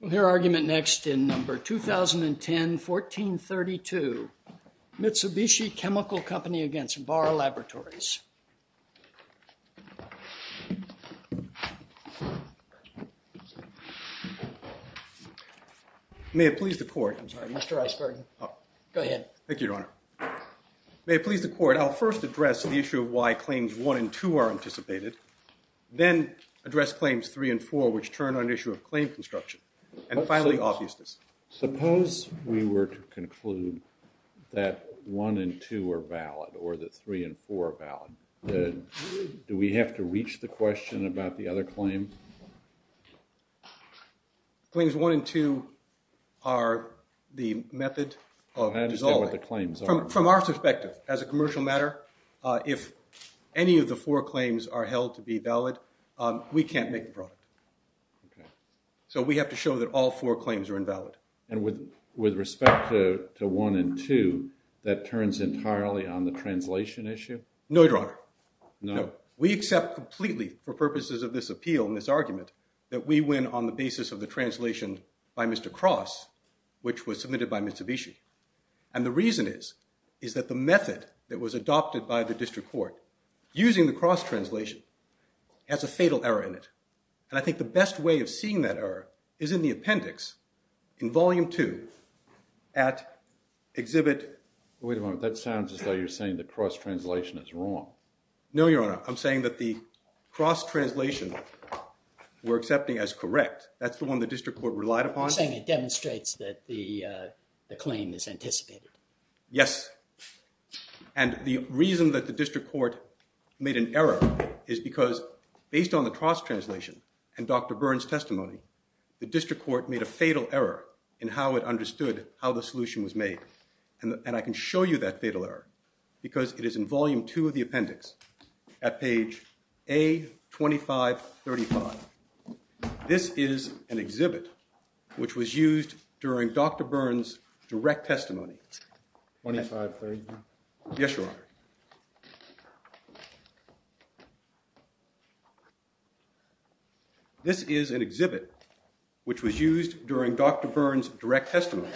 We'll hear argument next in number 2010-1432, Mitsubishi Chemical Company against Barr Laboratories. May it please the court. I'm sorry, Mr. Iceberg. Go ahead. Thank you, Your Honor. May it please the court. I'll first address the issue of why claims 1 and 2 are anticipated. Then address claims 3 and 4, which turn on the issue of claim construction. And finally, obviousness. Suppose we were to conclude that 1 and 2 are valid or that 3 and 4 are valid. Do we have to reach the question about the other claim? Claims 1 and 2 are the method of dissolving. From our perspective, as a commercial matter, if any of the four claims are held to be valid, we can't make the product. So we have to show that all four claims are invalid. And with respect to 1 and 2, that turns entirely on the translation issue? No, Your Honor. No? We accept completely, for purposes of this appeal and this argument, that we win on the basis of the translation by Mr. Cross, which was submitted by Mitsubishi. And the reason is, is that the method that was adopted by the district court, using the Cross translation, has a fatal error in it. And I think the best way of seeing that error is in the appendix in Volume 2 at Exhibit… Wait a moment. That sounds as though you're saying the Cross translation is wrong. No, Your Honor. I'm saying that the Cross translation we're accepting as correct. That's the one the district court relied upon. You're saying it demonstrates that the claim is anticipated. Yes. And the reason that the district court made an error is because, based on the Cross translation and Dr. Byrne's testimony, the district court made a fatal error in how it understood how the solution was made. And I can show you that fatal error because it is in Volume 2 of the appendix at page A2535. This is an exhibit which was used during Dr. Byrne's direct testimony. 2535? Yes, Your Honor. This is an exhibit which was used during Dr. Byrne's direct testimony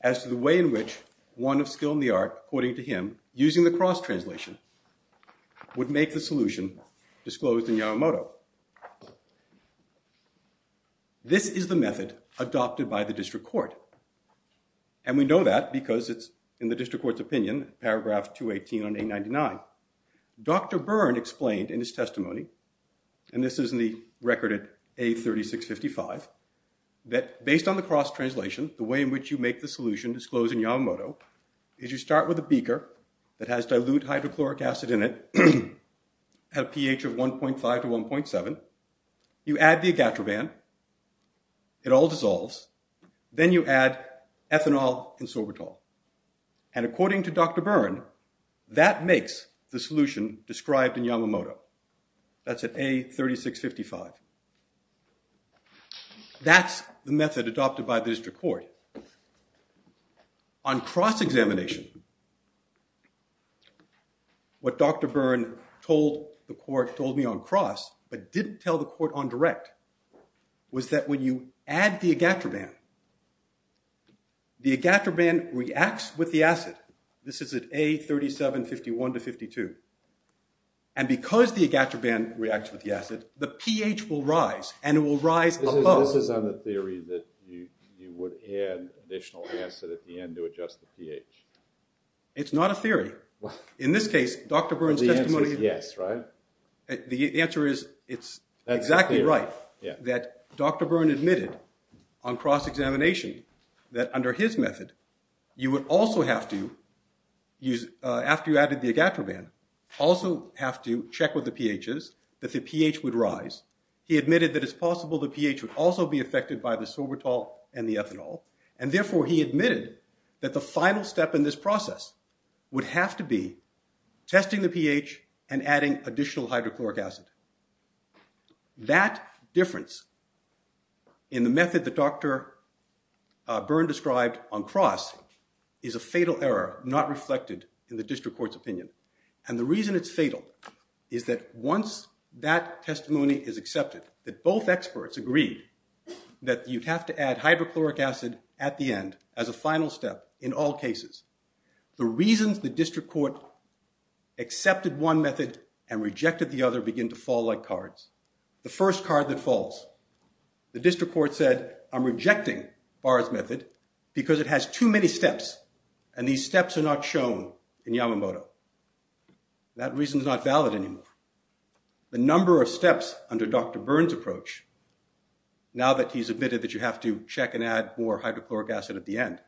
as to the way in which one of skill in the art, according to him, using the Cross translation, would make the solution disclosed in Yamamoto. This is the method adopted by the district court. And we know that because it's in the district court's opinion, paragraph 218 on A99. Dr. Byrne explained in his testimony, and this is in the record at A3655, that based on the Cross translation, the way in which you make the solution disclosed in Yamamoto is you start with a beaker that has dilute hydrochloric acid in it, at a pH of 1.5 to 1.7. You add the agatroban. It all dissolves. Then you add ethanol and sorbitol. And according to Dr. Byrne, that makes the solution described in Yamamoto. That's at A3655. That's the method adopted by the district court. On cross-examination, what Dr. Byrne told the court, told me on cross, but didn't tell the court on direct, was that when you add the agatroban, the agatroban reacts with the acid. This is at A3751 to A352. And because the agatroban reacts with the acid, the pH will rise, and it will rise above. So this is on the theory that you would add additional acid at the end to adjust the pH. It's not a theory. In this case, Dr. Byrne's testimony… The answer is yes, right? The answer is it's exactly right. That Dr. Byrne admitted on cross-examination that under his method, you would also have to, after you added the agatroban, also have to check with the pHs that the pH would rise. He admitted that it's possible the pH would also be affected by the sorbitol and the ethanol. And therefore, he admitted that the final step in this process would have to be testing the pH and adding additional hydrochloric acid. That difference in the method that Dr. Byrne described on cross is a fatal error not reflected in the district court's opinion. And the reason it's fatal is that once that testimony is accepted, that both experts agree that you have to add hydrochloric acid at the end as a final step in all cases, the reasons the district court accepted one method and rejected the other begin to fall like cards. The first card that falls, the district court said, I'm rejecting Byrne's method because it has too many steps, and these steps are not shown in Yamamoto. That reason is not valid anymore. The number of steps under Dr. Byrne's approach, now that he's admitted that you have to check and add more hydrochloric acid at the end,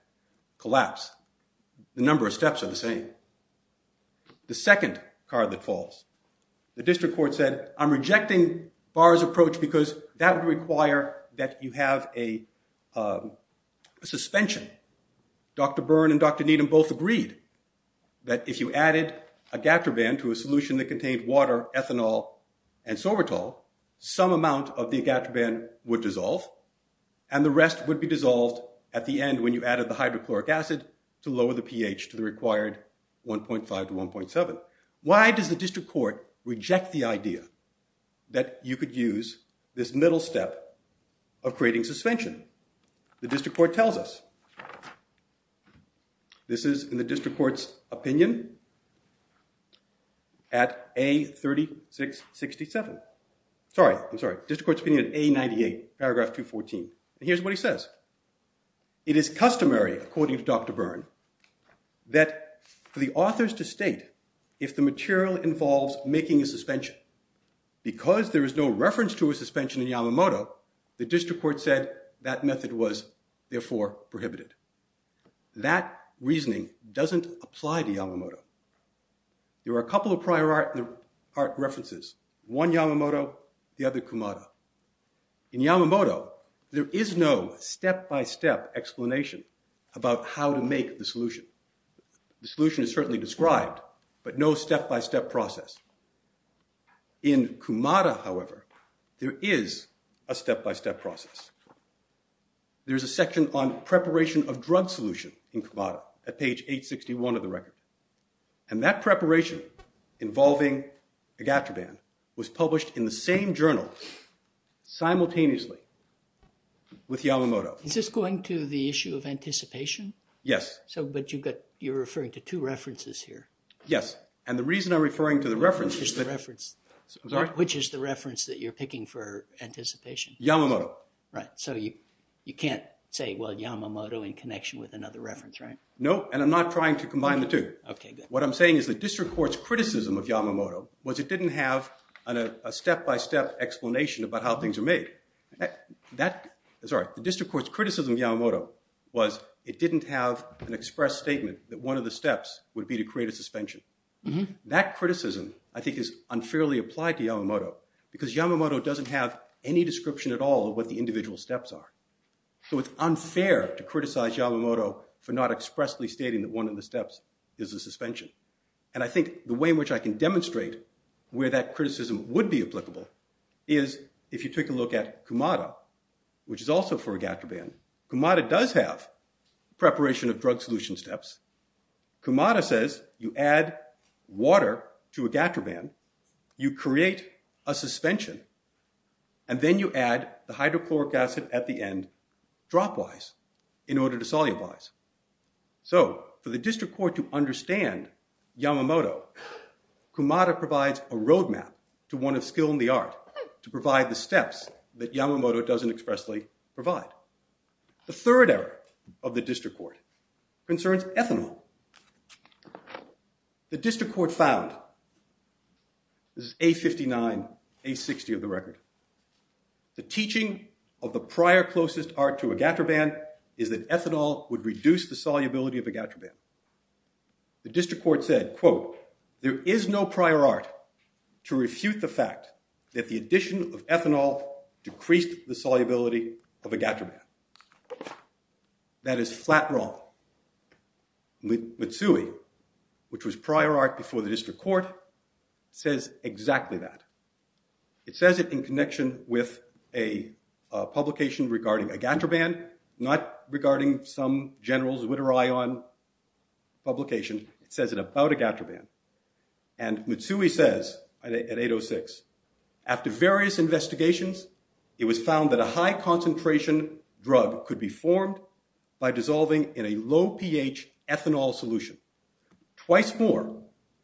collapsed. The number of steps are the same. The second card that falls, the district court said, I'm rejecting Byrne's approach because that would require that you have a suspension. Dr. Byrne and Dr. Needham both agreed that if you added agatroban to a solution that contained water, ethanol, and sorbitol, some amount of the agatroban would dissolve, and the rest would be dissolved at the end when you added the hydrochloric acid to lower the pH to the required 1.5 to 1.7. Why does the district court reject the idea that you could use this middle step of creating suspension? The district court tells us. This is in the district court's opinion at A3667. Sorry, I'm sorry, district court's opinion at A98, paragraph 214. And here's what he says. It is customary, according to Dr. Byrne, that for the authors to state if the material involves making a suspension, because there is no reference to a suspension in Yamamoto, the district court said that method was therefore prohibited. That reasoning doesn't apply to Yamamoto. There are a couple of prior art references, one Yamamoto, the other Kumada. In Yamamoto, there is no step-by-step explanation about how to make the solution. The solution is certainly described, but no step-by-step process. In Kumada, however, there is a step-by-step process. There's a section on preparation of drug solution in Kumada at page 861 of the record. And that preparation involving agataban was published in the same journal simultaneously with Yamamoto. Is this going to the issue of anticipation? Yes. But you're referring to two references here. Yes. And the reason I'm referring to the reference is that— Which is the reference that you're picking for anticipation? Yamamoto. Right. So you can't say, well, Yamamoto in connection with another reference, right? No, and I'm not trying to combine the two. Okay, good. What I'm saying is the district court's criticism of Yamamoto was it didn't have a step-by-step explanation about how things are made. Sorry. The district court's criticism of Yamamoto was it didn't have an express statement that one of the steps would be to create a suspension. That criticism, I think, is unfairly applied to Yamamoto because Yamamoto doesn't have any description at all of what the individual steps are. So it's unfair to criticize Yamamoto for not expressly stating that one of the steps is a suspension. And I think the way in which I can demonstrate where that criticism would be applicable is if you take a look at Kumada, which is also for a gator band. Kumada does have preparation of drug solution steps. Kumada says you add water to a gator band, you create a suspension, and then you add the hydrochloric acid at the end dropwise in order to solubilize. So for the district court to understand Yamamoto, Kumada provides a roadmap to one of skill in the art to provide the steps that Yamamoto doesn't expressly provide. The third error of the district court concerns ethanol. The district court found, this is A59, A60 of the record. The teaching of the prior closest art to a gator band is that ethanol would reduce the solubility of a gator band. The district court said, quote, there is no prior art to refute the fact that the addition of ethanol decreased the solubility of a gator band. That is flat wrong. Mitsui, which was prior art before the district court, says exactly that. It says it in connection with a publication regarding a gator band, not regarding some general's with an eye on publication. It says it about a gator band. And Mitsui says at 806, after various investigations, it was found that a high concentration drug could be formed by dissolving in a low pH ethanol solution. Twice more,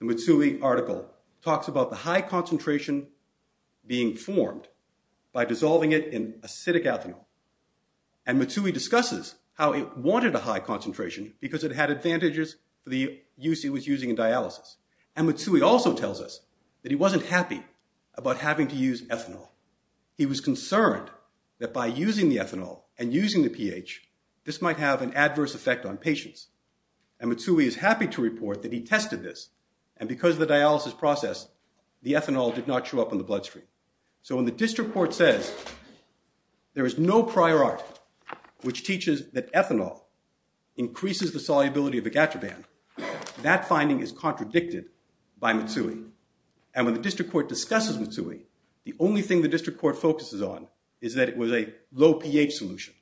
the Mitsui article talks about the high concentration being formed by dissolving it in acidic ethanol. And Mitsui discusses how it wanted a high concentration because it had advantages for the use it was using in dialysis. And Mitsui also tells us that he wasn't happy about having to use ethanol. He was concerned that by using the ethanol and using the pH, this might have an adverse effect on patients. And Mitsui is happy to report that he tested this. And because of the dialysis process, the ethanol did not show up on the bloodstream. So when the district court says there is no prior art which teaches that ethanol increases the solubility of a gator band, that finding is contradicted by Mitsui. And when the district court discusses Mitsui, the only thing the district court focuses on is that it was a low pH solution.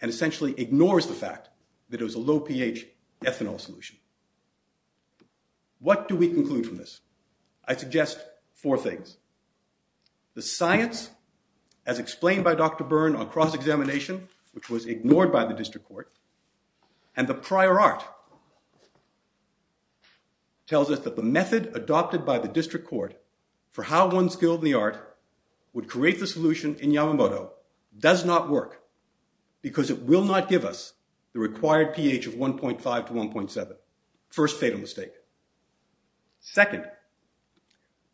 And essentially ignores the fact that it was a low pH ethanol solution. What do we conclude from this? I suggest four things. The science, as explained by Dr. Byrne on cross-examination, which was ignored by the district court. And the prior art tells us that the method adopted by the district court for how one skilled in the art would create the solution in Yamamoto does not work. Because it will not give us the required pH of 1.5 to 1.7. First fatal mistake. Second,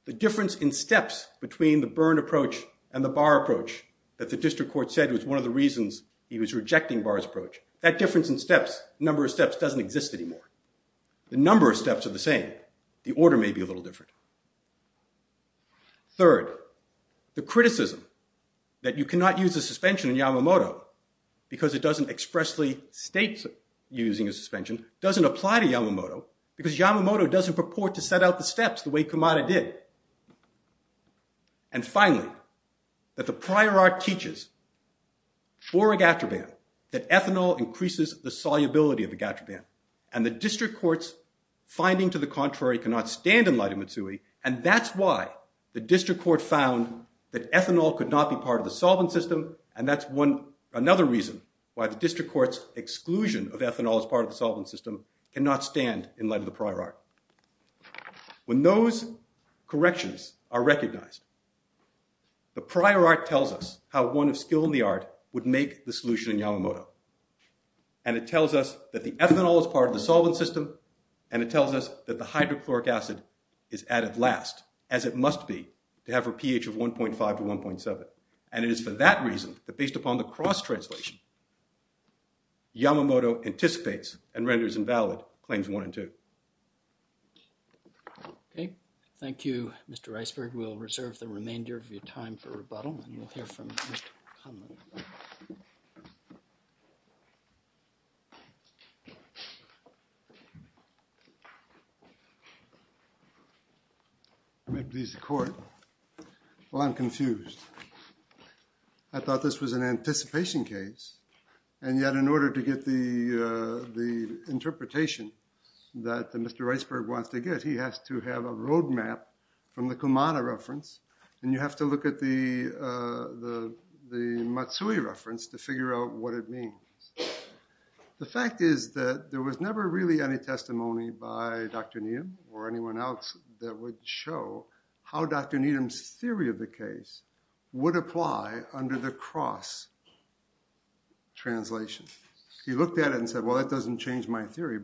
the difference in steps between the Byrne approach and the Barr approach that the district court said was one of the reasons he was rejecting Barr's approach. That difference in steps, number of steps, doesn't exist anymore. The number of steps are the same. The order may be a little different. Third, the criticism that you cannot use a suspension in Yamamoto because it doesn't expressly state using a suspension doesn't apply to Yamamoto. Because Yamamoto doesn't purport to set out the steps the way Kumada did. And finally, that the prior art teaches for a gatterban that ethanol increases the solubility of the gatterban. And the district court's finding to the contrary cannot stand in light of Mitsui. And that's why the district court found that ethanol could not be part of the solvent system. And that's another reason why the district court's exclusion of ethanol as part of the solvent system cannot stand in light of the prior art. When those corrections are recognized, the prior art tells us how one of skill in the art would make the solution in Yamamoto. And it tells us that the ethanol is part of the solvent system. And it tells us that the hydrochloric acid is added last, as it must be to have a pH of 1.5 to 1.7. And it is for that reason that based upon the cross-translation, Yamamoto anticipates and renders invalid claims one and two. Okay. Thank you, Mr. Iceberg. We'll reserve the remainder of your time for rebuttal. We'll hear from Mr. Conlon. May it please the court. Well, I'm confused. I thought this was an anticipation case. And yet, in order to get the interpretation that Mr. Iceberg wants to get, he has to have a roadmap from the Kumada reference. And you have to look at the Matsui reference to figure out what it means. The fact is that there was never really any testimony by Dr. Needham or anyone else that would show how Dr. Needham's theory of the case would apply under the cross-translation. He looked at it and said, well, that doesn't change my theory.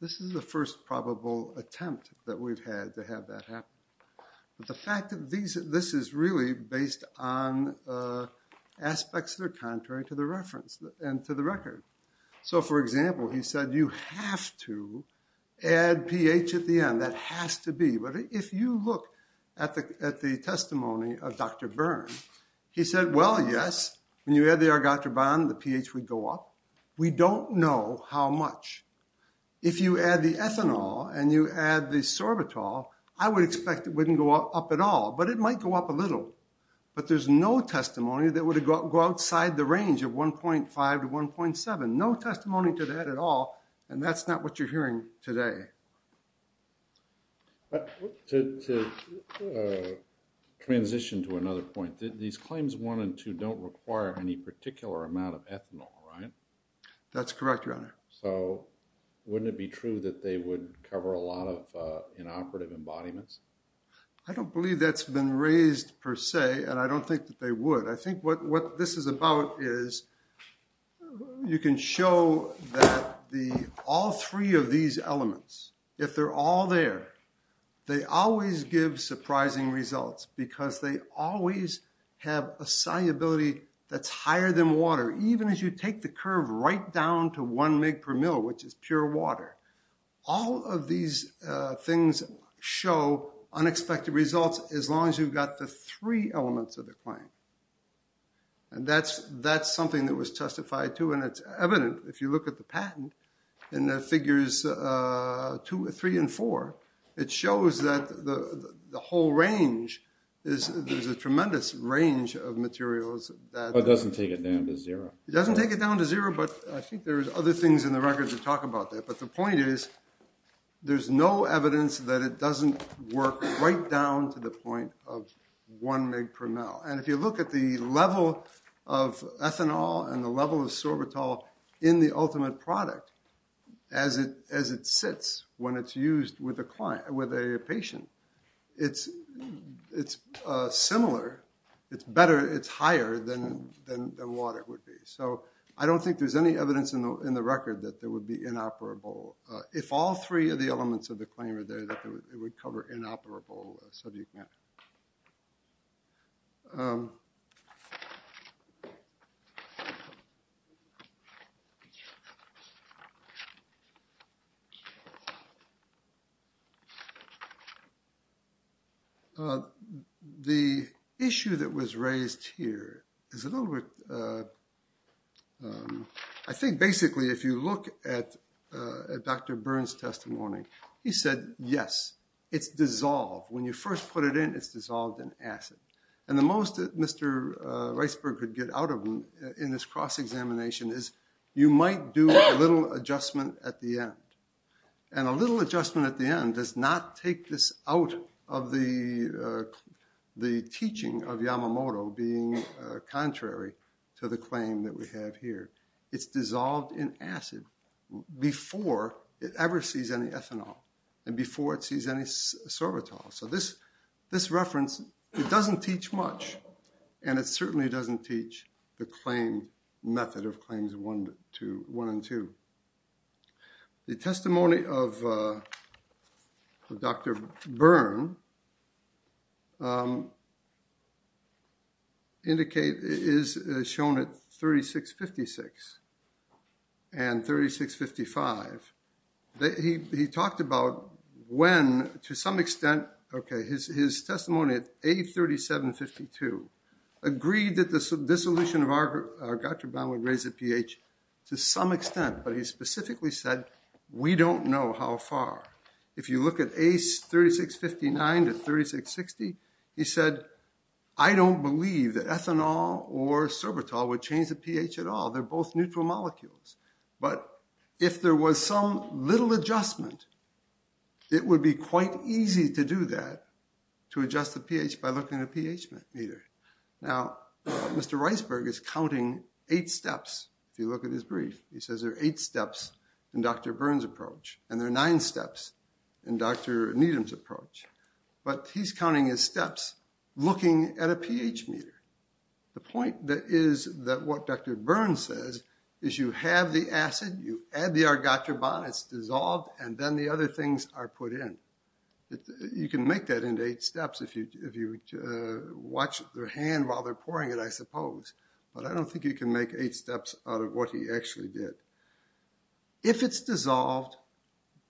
This is the first probable attempt that we've had to have that happen. But the fact that this is really based on aspects that are contrary to the reference and to the record. So, for example, he said you have to add pH at the end. That has to be. But if you look at the testimony of Dr. Byrne, he said, well, yes. When you add the argotraban, the pH would go up. We don't know how much. If you add the ethanol and you add the sorbitol, I would expect it wouldn't go up at all. But it might go up a little. But there's no testimony that would go outside the range of 1.5 to 1.7. No testimony to that at all. And that's not what you're hearing today. To transition to another point, these claims 1 and 2 don't require any particular amount of ethanol, right? That's correct, Your Honor. So wouldn't it be true that they would cover a lot of inoperative embodiments? I don't believe that's been raised per se, and I don't think that they would. I think what this is about is you can show that all three of these elements, if they're all there, they always give surprising results because they always have a solubility that's higher than water, even as you take the curve right down to 1 mg per ml, which is pure water. All of these things show unexpected results as long as you've got the three elements of the claim. And that's something that was testified to, and it's evident if you look at the patent in the figures 3 and 4. It shows that the whole range is a tremendous range of materials. It doesn't take it down to zero. It doesn't take it down to zero, but I think there's other things in the record that talk about that. But the point is there's no evidence that it doesn't work right down to the point of 1 mg per ml. And if you look at the level of ethanol and the level of sorbitol in the ultimate product, as it sits when it's used with a patient, it's similar. It's better. It's higher than water would be. So I don't think there's any evidence in the record that there would be inoperable, if all three of the elements of the claim are there, that it would cover inoperable subject matter. The issue that was raised here is a little bit… I think basically if you look at Dr. Burns' testimony, he said, yes, it's dissolved. When you first put it in, it's dissolved in acid. And the most that Mr. Reisberg could get out of him in this cross-examination is, you might do a little adjustment at the end. And a little adjustment at the end does not take this out of the teaching of Yamamoto being contrary to the claim that we have here. It's dissolved in acid before it ever sees any ethanol and before it sees any sorbitol. So this reference, it doesn't teach much. And it certainly doesn't teach the claim method of claims one and two. The testimony of Dr. Burns is shown at 36.56 and 36.55. He talked about when, to some extent, his testimony at 8.37.52 agreed that the dissolution of our gutter bound would raise the pH to some extent. But he specifically said, we don't know how far. If you look at ACE36.59 to 36.60, he said, I don't believe that ethanol or sorbitol would change the pH at all. They're both neutral molecules. But if there was some little adjustment, it would be quite easy to do that, to adjust the pH by looking at a pH meter. Now, Mr. Reisberg is counting eight steps. If you look at his brief, he says there are eight steps in Dr. Burns' approach. And there are nine steps in Dr. Needham's approach. But he's counting his steps looking at a pH meter. The point is that what Dr. Burns says is you have the acid. You add the our gutter bond. It's dissolved. And then the other things are put in. You can make that into eight steps if you watch their hand while they're pouring it, I suppose. But I don't think you can make eight steps out of what he actually did. If it's dissolved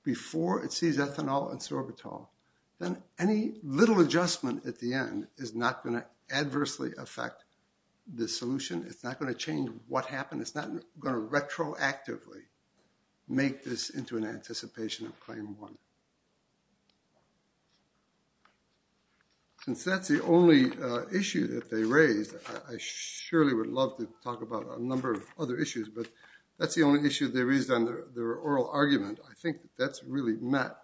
before it sees ethanol and sorbitol, then any little adjustment at the end is not going to adversely affect the solution. It's not going to change what happened. And it's not going to retroactively make this into an anticipation of claim one. Since that's the only issue that they raised, I surely would love to talk about a number of other issues. But that's the only issue they raised on their oral argument. I think that's really met.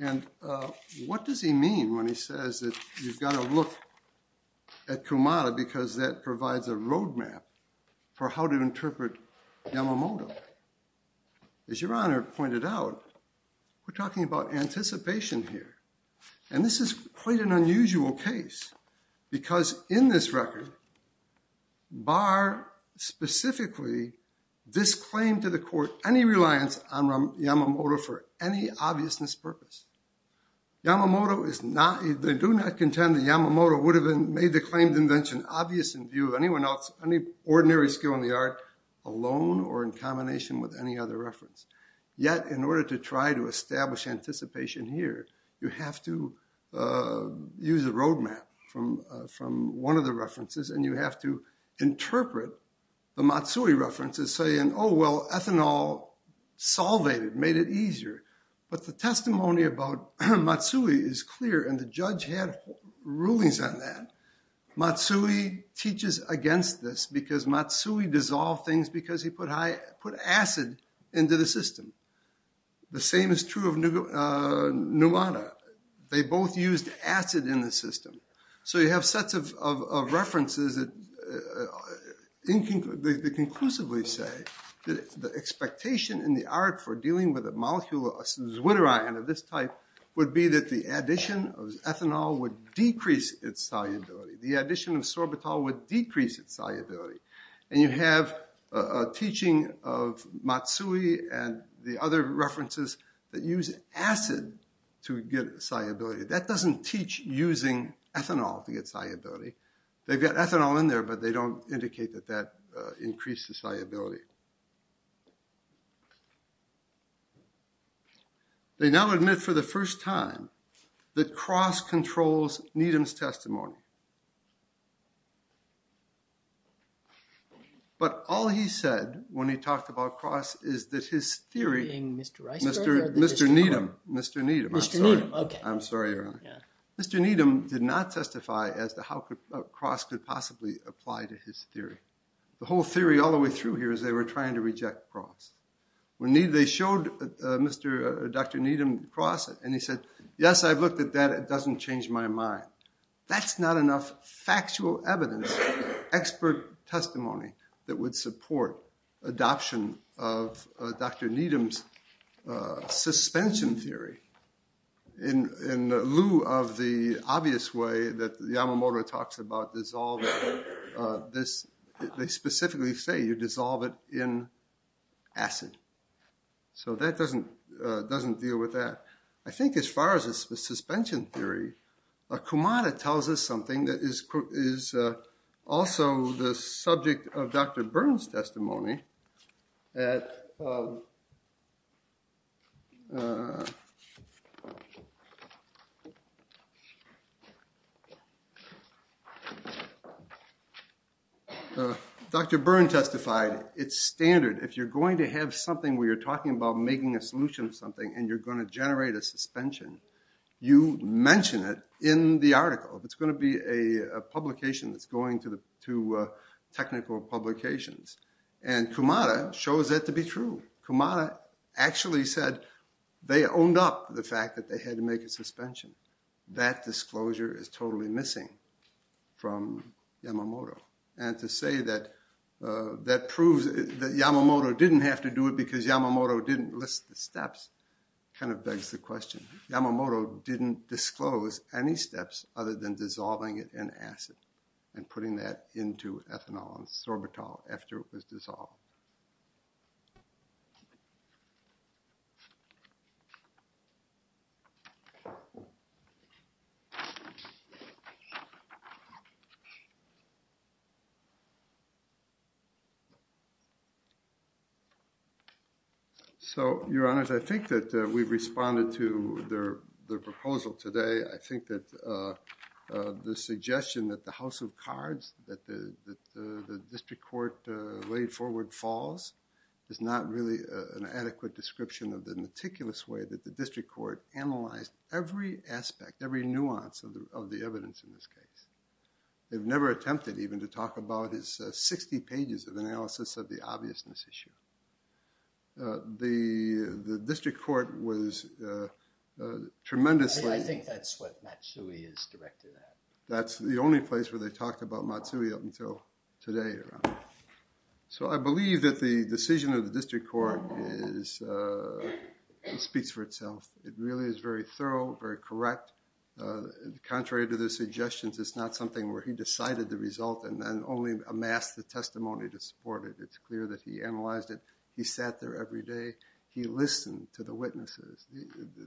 And what does he mean when he says that you've got to look at Kumada because that provides a roadmap for how to interpret Yamamoto? As Your Honor pointed out, we're talking about anticipation here. And this is quite an unusual case because in this record, bar specifically this claim to the court, any reliance on Yamamoto for any obviousness purpose, they do not contend that Yamamoto would have made the claimed invention obvious in view of anyone else, any ordinary skill in the art, alone or in combination with any other reference. Yet, in order to try to establish anticipation here, you have to use a roadmap from one of the references. And you have to interpret the Matsui references saying, oh, well, ethanol solvated, made it easier. But the testimony about Matsui is clear, and the judge had rulings on that. Matsui teaches against this because Matsui dissolved things because he put acid into the system. The same is true of Numata. They both used acid in the system. So you have sets of references that conclusively say that the expectation in the art for dealing with a molecule, a zwitterion of this type, would be that the addition of ethanol would decrease its solubility. The addition of sorbitol would decrease its solubility. And you have a teaching of Matsui and the other references that use acid to get solubility. That doesn't teach using ethanol to get solubility. They've got ethanol in there, but they don't indicate that that increases solubility. They now admit for the first time that Cross controls Needham's testimony. But all he said when he talked about Cross is that his theory, Mr. Needham, did not testify as to how Cross could possibly apply to his theory. The whole theory all the way through here is they were trying to reject Cross. They showed Dr. Needham Cross, and he said, yes, I've looked at that. It doesn't change my mind. That's not enough factual evidence, expert testimony that would support adoption of Dr. Needham's suspension theory. In lieu of the obvious way that Yamamoto talks about dissolving this, they specifically say you dissolve it in acid. So that doesn't deal with that. I think as far as the suspension theory, Kumada tells us something that is also the subject of Dr. Byrne's testimony. Dr. Byrne testified, it's standard. If you're going to have something where you're talking about making a solution to something and you're going to generate a suspension, you mention it in the article. It's going to be a publication that's going to technical publications. And Kumada shows that to be true. Kumada actually said they owned up to the fact that they had to make a suspension. That disclosure is totally missing from Yamamoto. And to say that that proves that Yamamoto didn't have to do it because Yamamoto didn't list the steps kind of begs the question. Yamamoto didn't disclose any steps other than dissolving it in acid and putting that into ethanol and sorbitol after it was dissolved. So, Your Honors, I think that we've responded to their proposal today. I think that the suggestion that the house of cards, that the district court laid forward falls is not really an adequate description of the meticulous way that the district court analyzed every aspect, every nuance of the evidence in this case. They've never attempted even to talk about his 60 pages of analysis of the obviousness issue. The district court was tremendously… I think that's what Matsui is directed at. That's the only place where they talked about Matsui up until today, Your Honor. So, I believe that the decision of the district court speaks for itself. It really is very thorough, very correct. Contrary to the suggestions, it's not something where he decided the result and then only amassed the testimony to support it. It's clear that he analyzed it. He sat there every day. He listened to the witnesses.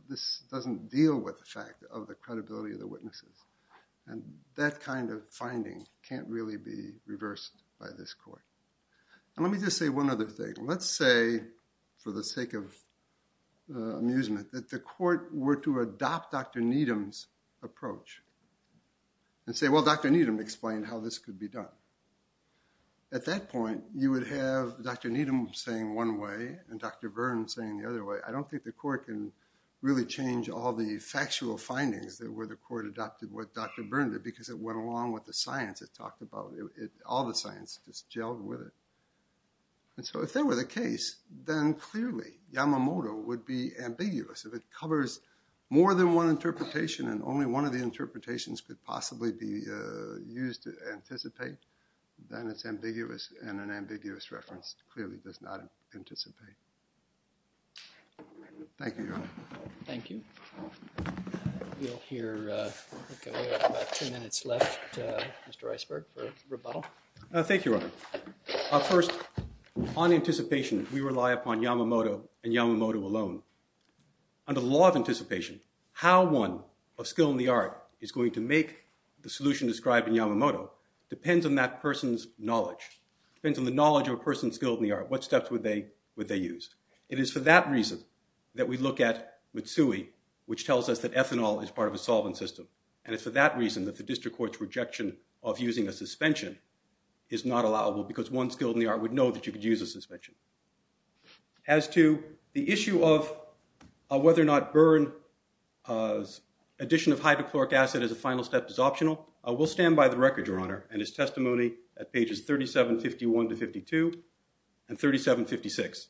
This doesn't deal with the fact of the credibility of the witnesses. And that kind of finding can't really be reversed by this court. And let me just say one other thing. Let's say, for the sake of amusement, that the court were to adopt Dr. Needham's approach and say, well, Dr. Needham explained how this could be done. At that point, you would have Dr. Needham saying one way and Dr. Byrne saying the other way. I don't think the court can really change all the factual findings that where the court adopted what Dr. Byrne did because it went along with the science it talked about. All the science just gelled with it. And so if that were the case, then clearly Yamamoto would be ambiguous. If it covers more than one interpretation and only one of the interpretations could possibly be used to anticipate, then it's ambiguous and an ambiguous reference clearly does not anticipate. Thank you, Your Honor. Thank you. We'll hear about two minutes left, Mr. Iceberg, for rebuttal. Thank you, Your Honor. First, on anticipation, we rely upon Yamamoto and Yamamoto alone. Under the law of anticipation, how one of skill in the art is going to make the solution described in Yamamoto depends on that person's knowledge, depends on the knowledge of a person's skill in the art, what steps would they use. It is for that reason that we look at Mitsui, which tells us that ethanol is part of a solvent system. And it's for that reason that the district court's rejection of using a suspension is not allowable because one skill in the art would know that you could use a suspension. As to the issue of whether or not Byrne's addition of hydrochloric acid as a final step is optional, we'll stand by the record, Your Honor, and his testimony at pages 3751 to 52 and 3756.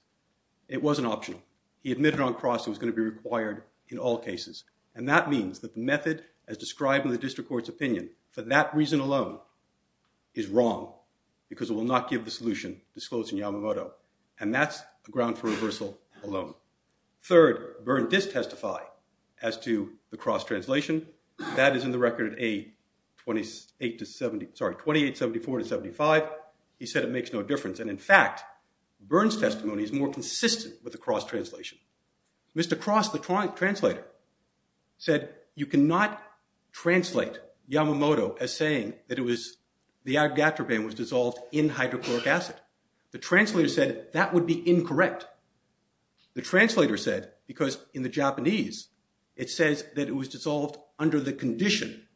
It wasn't optional. He admitted on cross it was going to be required in all cases. And that means that the method as described in the district court's opinion, for that reason alone, is wrong because it will not give the solution disclosed in Yamamoto. And that's a ground for reversal alone. Third, Byrne did testify as to the cross translation. That is in the record at 2874 to 75. He said it makes no difference. And in fact, Byrne's testimony is more consistent with the cross translation. Mr. Cross, the translator, said you cannot translate Yamamoto as saying that it was the agar-agar band was dissolved in hydrochloric acid. The translator said that would be incorrect. The translator said because in the Japanese, it says that it was dissolved under the condition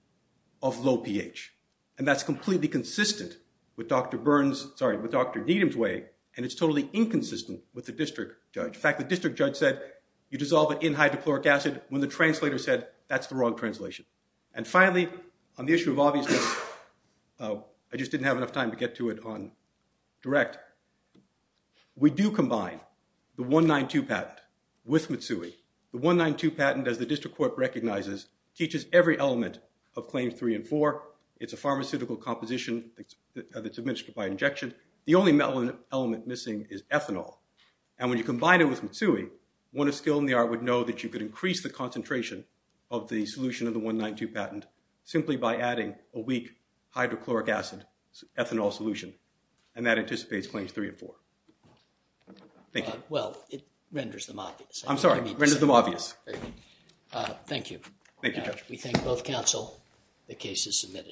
of low pH. And that's completely consistent with Dr. Byrne's, sorry, with Dr. Needham's way, and it's totally inconsistent with the district judge. In fact, the district judge said you dissolve it in hydrochloric acid when the translator said that's the wrong translation. And finally, on the issue of obviousness, I just didn't have enough time to get to it on direct. We do combine the 192 patent with Mitsui. The 192 patent, as the district court recognizes, teaches every element of Claims 3 and 4. It's a pharmaceutical composition that's administered by injection. The only element missing is ethanol. And when you combine it with Mitsui, one of skill in the art would know that you could increase the concentration of the solution of the 192 patent simply by adding a weak hydrochloric acid ethanol solution. And that anticipates Claims 3 and 4. Thank you. Well, it renders them obvious. I'm sorry, renders them obvious. Thank you. Thank you, Judge. We thank both counsel. The case is submitted.